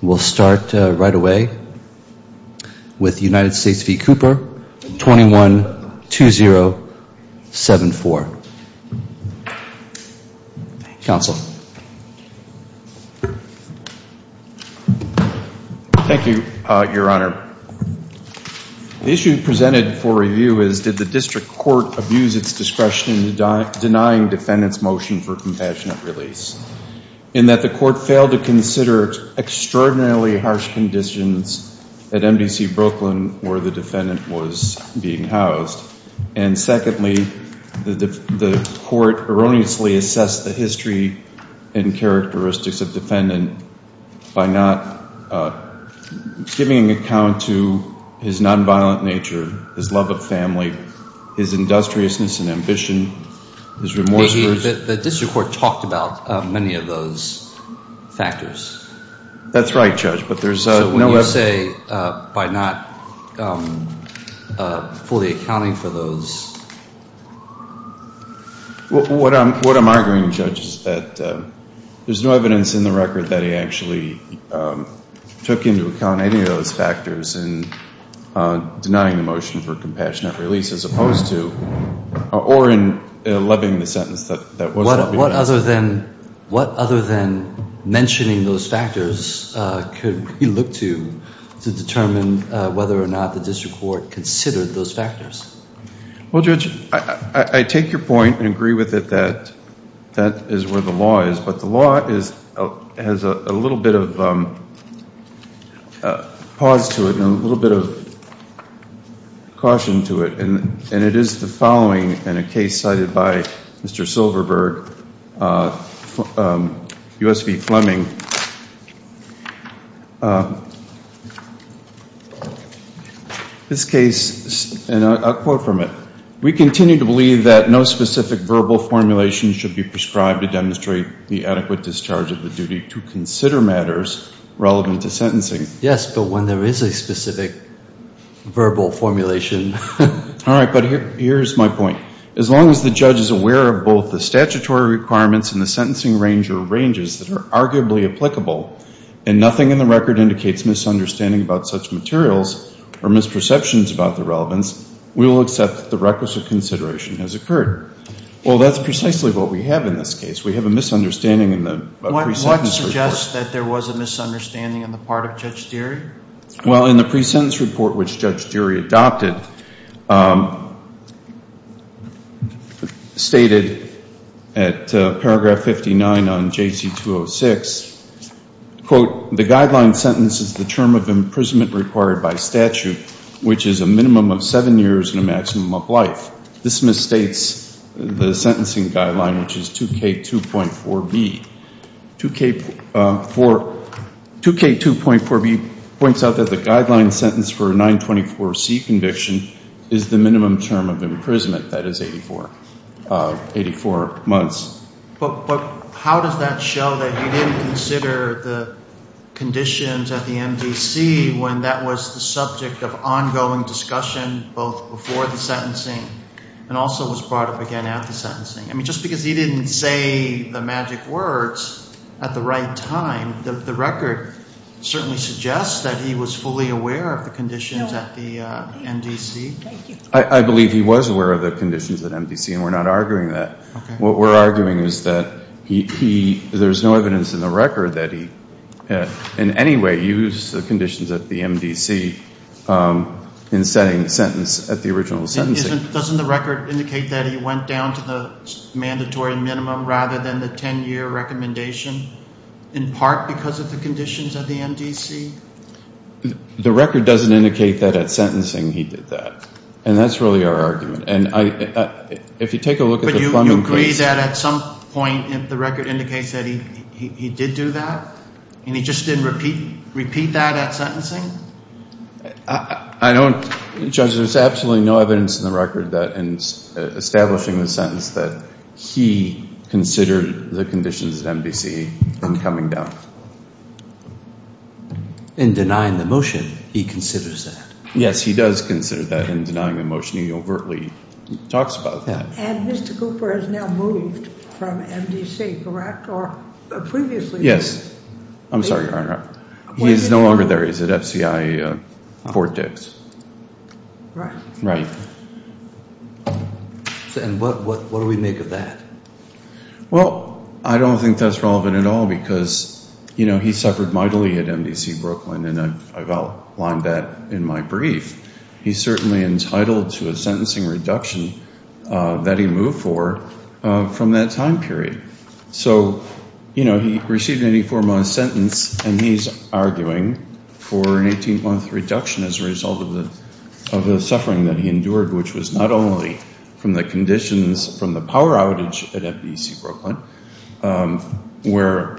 We'll start right away with United States v. Cooper, 21-2074. Counsel. Thank you, your honor. The issue presented for review is did the district court abuse its discretion in denying defendants motion for compassionate release? In that the extraordinarily harsh conditions at MDC Brooklyn where the defendant was being housed. And secondly, the court erroneously assessed the history and characteristics of defendant by not giving account to his nonviolent nature, his love of family, his industriousness and ambition, his remorse. The district court talked about many of those factors. That's right, Judge, but there's no evidence. So when you say by not fully accounting for those... What I'm arguing, Judge, is that there's no evidence in the record that he actually took into account any of those factors in denying the motion for compensation. But other than, what other than mentioning those factors could we look to to determine whether or not the district court considered those factors? Well, Judge, I take your point and agree with it that that is where the law is. But the law is, has a little bit of pause to it and a little bit of caution to it. And it is the U.S. v. Fleming. This case, and I'll quote from it, we continue to believe that no specific verbal formulation should be prescribed to demonstrate the adequate discharge of the duty to consider matters relevant to sentencing. Yes, but when there is a specific verbal formulation... All right, but here's my point. As long as the judge is aware of both the statutory requirements and the sentencing range or ranges that are arguably applicable, and nothing in the record indicates misunderstanding about such materials or misperceptions about the relevance, we will accept that the requisite consideration has occurred. Well, that's precisely what we have in this case. We have a misunderstanding in the pre-sentence report. What suggests that there was a misunderstanding on the part of Judge Dury? Well, in the pre-sentence report which Judge Dury adopted, stated at paragraph 59 on J.C. 206, quote, the guideline sentence is the term of imprisonment required by statute, which is a minimum of seven years and a maximum of life. This misstates the sentencing guideline, which is 2K2.4b. 2K2.4b points out that the guideline sentence for a 924C conviction is the minimum term of imprisonment, that is 84 months. But how does that show that he didn't consider the conditions at the MDC when that was the subject of ongoing discussion both before the sentencing and also was brought up again at the sentencing? I mean, just because he didn't say the magic words at the right time, the record certainly suggests that he was fully aware of the conditions at the MDC. I believe he was aware of the conditions at MDC and we're not arguing that. What we're arguing is that there's no evidence in the record that he in any way used the conditions at the MDC in setting the sentence at the original sentencing. Doesn't the record indicate that he went down to the mandatory minimum rather than the 10-year recommendation in part because of the conditions at the MDC? The record doesn't indicate that at sentencing he did that. And that's really our argument. And if you take a look at the plumbing case. But you agree that at some point the record indicates that he did do that and he just didn't repeat that at sentencing? I don't. Judge, there's absolutely no evidence in the record that in establishing the sentence that he considered the conditions at MDC in coming down. In denying the motion, he considers that. Yes, he does consider that in denying the motion. He overtly talks about that. And Mr. Cooper has now moved from MDC, correct, or previously? Yes. I'm sorry, Your Honor. He is no longer there. He's at FCI Fort Dix. Right. Right. And what do we make of that? Well, I don't think that's relevant at all because, you know, he suffered mightily at MDC Brooklyn, and I've outlined that in my brief. He's certainly entitled to a sentencing reduction that he moved for from that time period. So, you know, he received an 84-month sentence, and he's arguing for an 18-month reduction as a result of the suffering that he endured, which was not only from the conditions from the power outage at MDC Brooklyn, where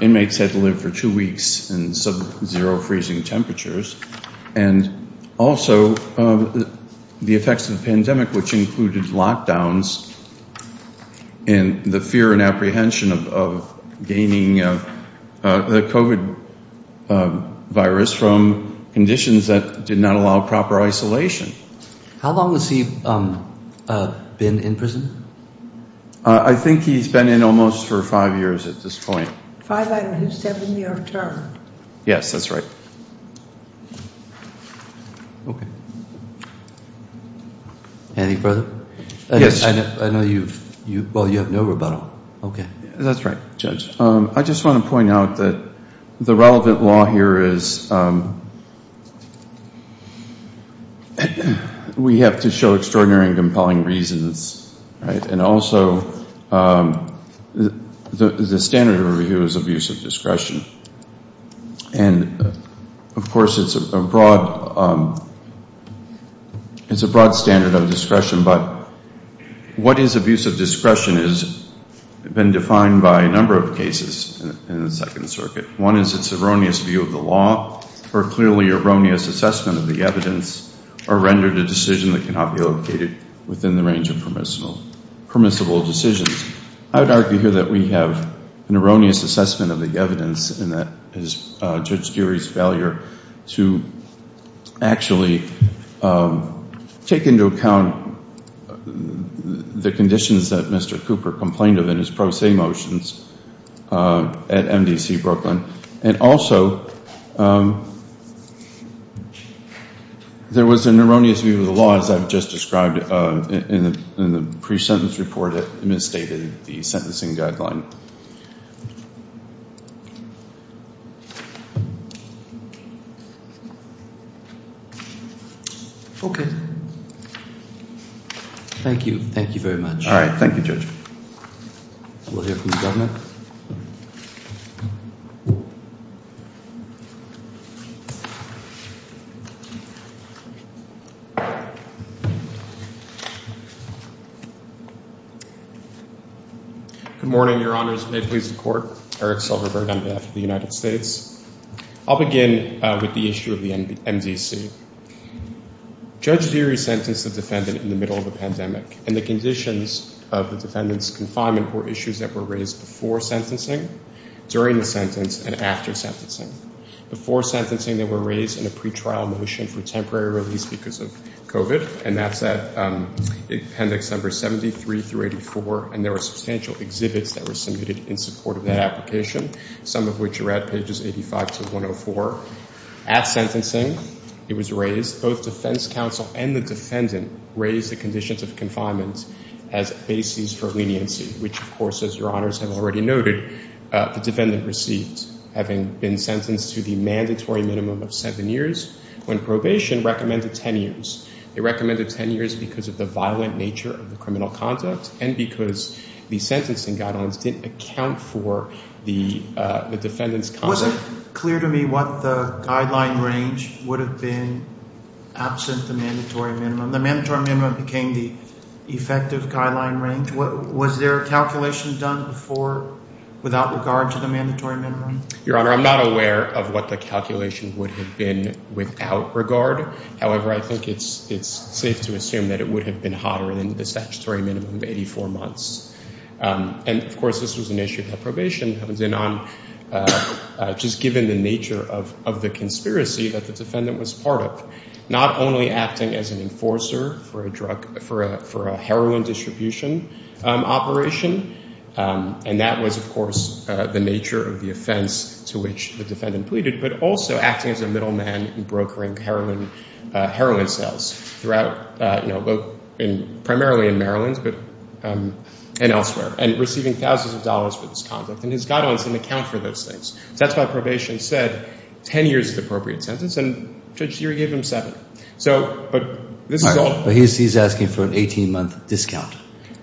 inmates had to live for two weeks in sub-zero freezing temperatures, and also the effects of the pandemic, which included lockdowns and the fear and apprehension of gaining the COVID virus from conditions that did not allow proper isolation. How long has he been in prison? I think he's been in almost for five years at this point. Five, out of his seven-year term. Yes, that's right. Okay. Any further? Yes. I know you've, well, you have no rebuttal. Okay. That's right, Judge. I just want to point out that the relevant law here is we have to show extraordinary and compelling reasons, right, and also the standard of review is abuse of discretion. And, of course, it's a broad standard of discretion, but what is abuse of discretion has been defined by a number of cases in the Second Circuit. One is its erroneous view of the law, or clearly erroneous assessment of the evidence, or rendered a decision that cannot be located within the range of permissible decisions. I would argue here that we have an erroneous assessment of the evidence and that is Judge Geary's failure to actually take into account the conditions that Mr. Cooper complained of in his pro se motions at MDC Brooklyn. And also, there was an erroneous view of the law, as I've just described in the pre-sentence report that misstated the sentencing guideline. Okay. Thank you. Thank you very much. All right. Thank you, Judge. We'll hear from the Governor. Good morning, Your Honors. May it please the Court. Eric Silverberg on behalf of the United States. I'll begin with the issue of the MDC. Judge Geary sentenced the defendant in the middle of a pandemic, and the conditions of the defendant's confinement were issues that were raised before sentencing, during the sentence, and after sentencing. Before sentencing, they were raised in a pretrial motion for temporary release because of COVID, and that's at Appendix No. 73-84. And there were substantial exhibits that were submitted in support of that application, some of which are at pages 85-104. At sentencing, it was raised. Both defense counsel and the defendant raised the conditions of confinement as bases for leniency, which, of course, as Your Honors have already noted, the defendant received, having been sentenced to the mandatory minimum of seven years, when probation recommended ten years. They recommended ten years because of the violent nature of the criminal conduct and because the sentencing guidelines didn't account for the defendant's conduct. Was it clear to me what the guideline range would have been absent the mandatory minimum? The mandatory minimum became the effective guideline range. Was there a calculation done before without regard to the mandatory minimum? Your Honor, I'm not aware of what the calculation would have been without regard. However, I think it's safe to assume that it would have been hotter than the statutory minimum of 84 months. And, of course, this was an issue of probation that was in on, just given the nature of the conspiracy that the defendant was part of, not only acting as an enforcer for a heroin distribution operation, and that was, of course, the nature of the offense to which the defendant pleaded, but also acting as a middleman in brokering heroin sales throughout, primarily in Maryland and elsewhere, and receiving thousands of dollars for this conduct. And his guidelines didn't account for those things. That's why probation said ten years is the appropriate sentence, and Judge Siri gave him seven. But this is all— But he's asking for an 18-month discount.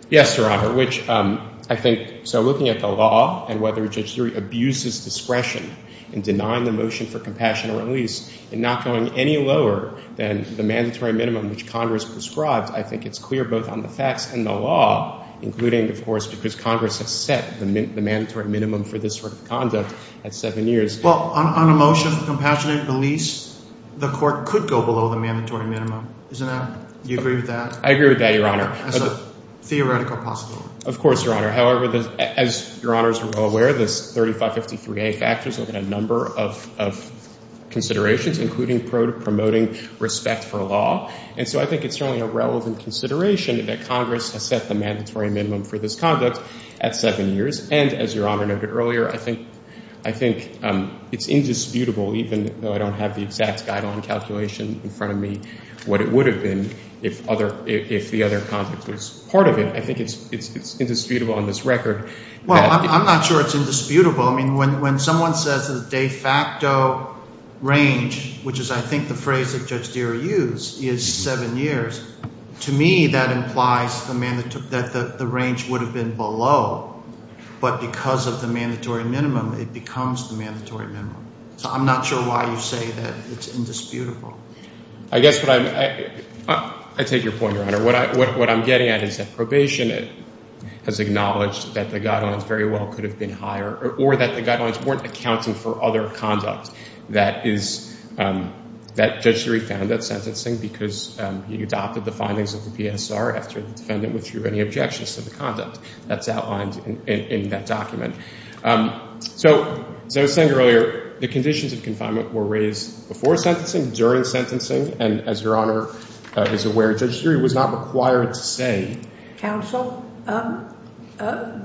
Yes, Your Honor, which I think—so looking at the law and whether Judge Siri abuses discretion in denying the motion for compassionate release and not going any lower than the mandatory minimum which Congress prescribed, I think it's clear both on the facts and the law, including, of course, because Congress has set the mandatory minimum for this sort of conduct at seven years. Well, on a motion for compassionate release, the court could go below the mandatory minimum. Isn't that—do you agree with that? I agree with that, Your Honor. That's a theoretical possibility. Of course, Your Honor. However, as Your Honors are well aware, the 3553A factors look at a number of considerations, including promoting respect for law. And so I think it's certainly a relevant consideration that Congress has set the mandatory minimum for this conduct at seven years. And as Your Honor noted earlier, I think it's indisputable, even though I don't have the exact guideline calculation in front of me, what it would have been if the other context was part of it. I think it's indisputable on this record. Well, I'm not sure it's indisputable. I mean when someone says the de facto range, which is I think the phrase that Judge Deere used, is seven years, to me that implies that the range would have been below. But because of the mandatory minimum, it becomes the mandatory minimum. So I'm not sure why you say that it's indisputable. I guess what I'm—I take your point, Your Honor. What I'm getting at is that probation has acknowledged that the guidelines very well could have been higher or that the guidelines weren't accounting for other conduct that Judge Deere found at sentencing because he adopted the findings of the PSR after the defendant withdrew any objections to the conduct that's outlined in that document. So as I was saying earlier, the conditions of confinement were raised before sentencing, during sentencing, and as Your Honor is aware, Judge Deere was not required to say— I'm not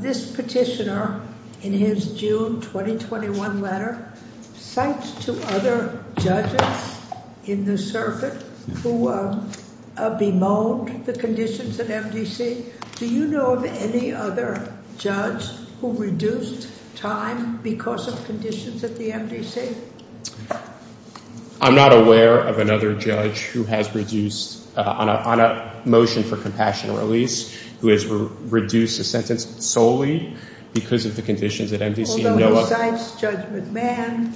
aware of another judge who has reduced—on a motion for compassionate release, who has reduced a sentence solely because of the conditions at MDC and no other—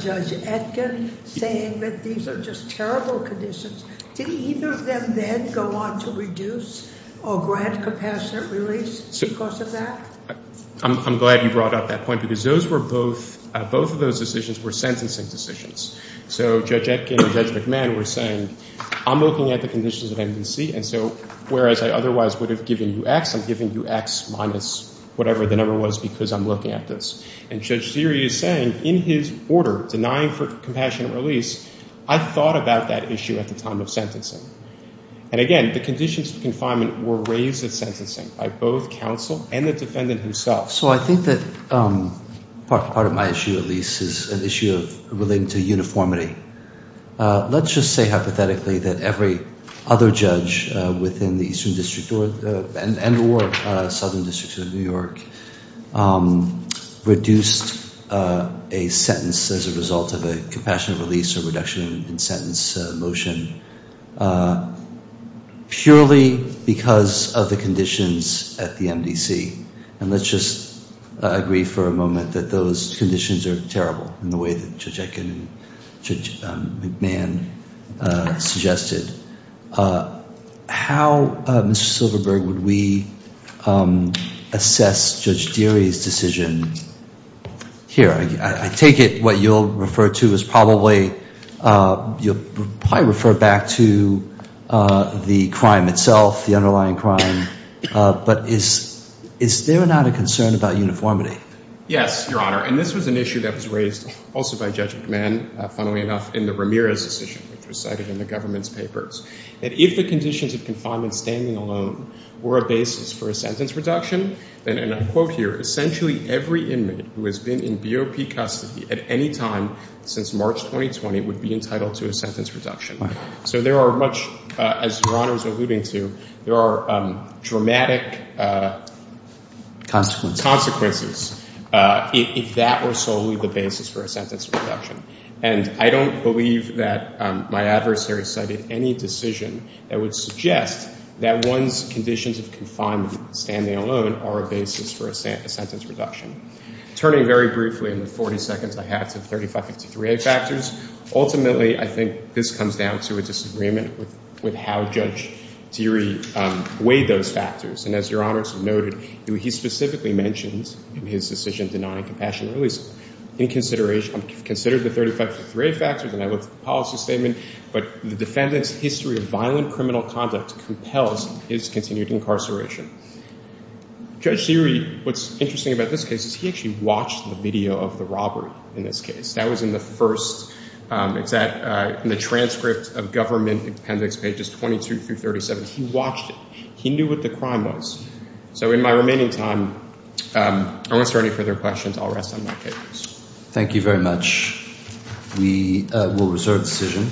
Judge Etkin saying that these are just terrible conditions. Did either of them then go on to reduce or grant compassionate release because of that? I'm glad you brought up that point because those were both—both of those decisions were sentencing decisions. So Judge Etkin and Judge McMahon were saying, I'm looking at the conditions at MDC, and so whereas I otherwise would have given you X, I'm giving you X minus whatever the number was because I'm looking at this. And Judge Deere is saying in his order, denying for compassionate release, I thought about that issue at the time of sentencing. And again, the conditions of confinement were raised at sentencing by both counsel and the defendant himself. So I think that part of my issue, at least, is an issue relating to uniformity. Let's just say hypothetically that every other judge within the Eastern District and or Southern District of New York reduced a sentence as a result of a compassionate release or reduction in sentence motion purely because of the conditions at the MDC. And let's just agree for a moment that those conditions are terrible in the way that Judge Etkin and Judge McMahon suggested. How, Mr. Silverberg, would we assess Judge Deere's decision here? I take it what you'll refer to is probably, you'll probably refer back to the crime itself, the underlying crime. But is there not a concern about uniformity? Yes, Your Honor. And this was an issue that was raised also by Judge McMahon, funnily enough, in the Ramirez decision, which was cited in the government's papers. And if the conditions of confinement standing alone were a basis for a sentence reduction, then, and I quote here, essentially every inmate who has been in BOP custody at any time since March 2020 would be entitled to a sentence reduction. So there are much, as Your Honor is alluding to, there are dramatic consequences if that were solely the basis for a sentence reduction. And I don't believe that my adversary cited any decision that would suggest that one's conditions of confinement standing alone are a basis for a sentence reduction. Turning very briefly in the 40 seconds I have to 3553A factors, ultimately I think this comes down to a disagreement with how Judge Deere weighed those factors. And as Your Honor noted, he specifically mentions in his decision denying compassion release, in consideration, considered the 3553A factors, and I looked at the policy statement, but the defendant's history of violent criminal conduct compels his continued incarceration. Judge Deere, what's interesting about this case, is he actually watched the video of the robbery in this case. That was in the first, it's at, in the transcript of government appendix pages 22 through 37. He watched it. He knew what the crime was. So in my remaining time, unless there are any further questions, I'll rest on my papers. Thank you very much. We will reserve the decision.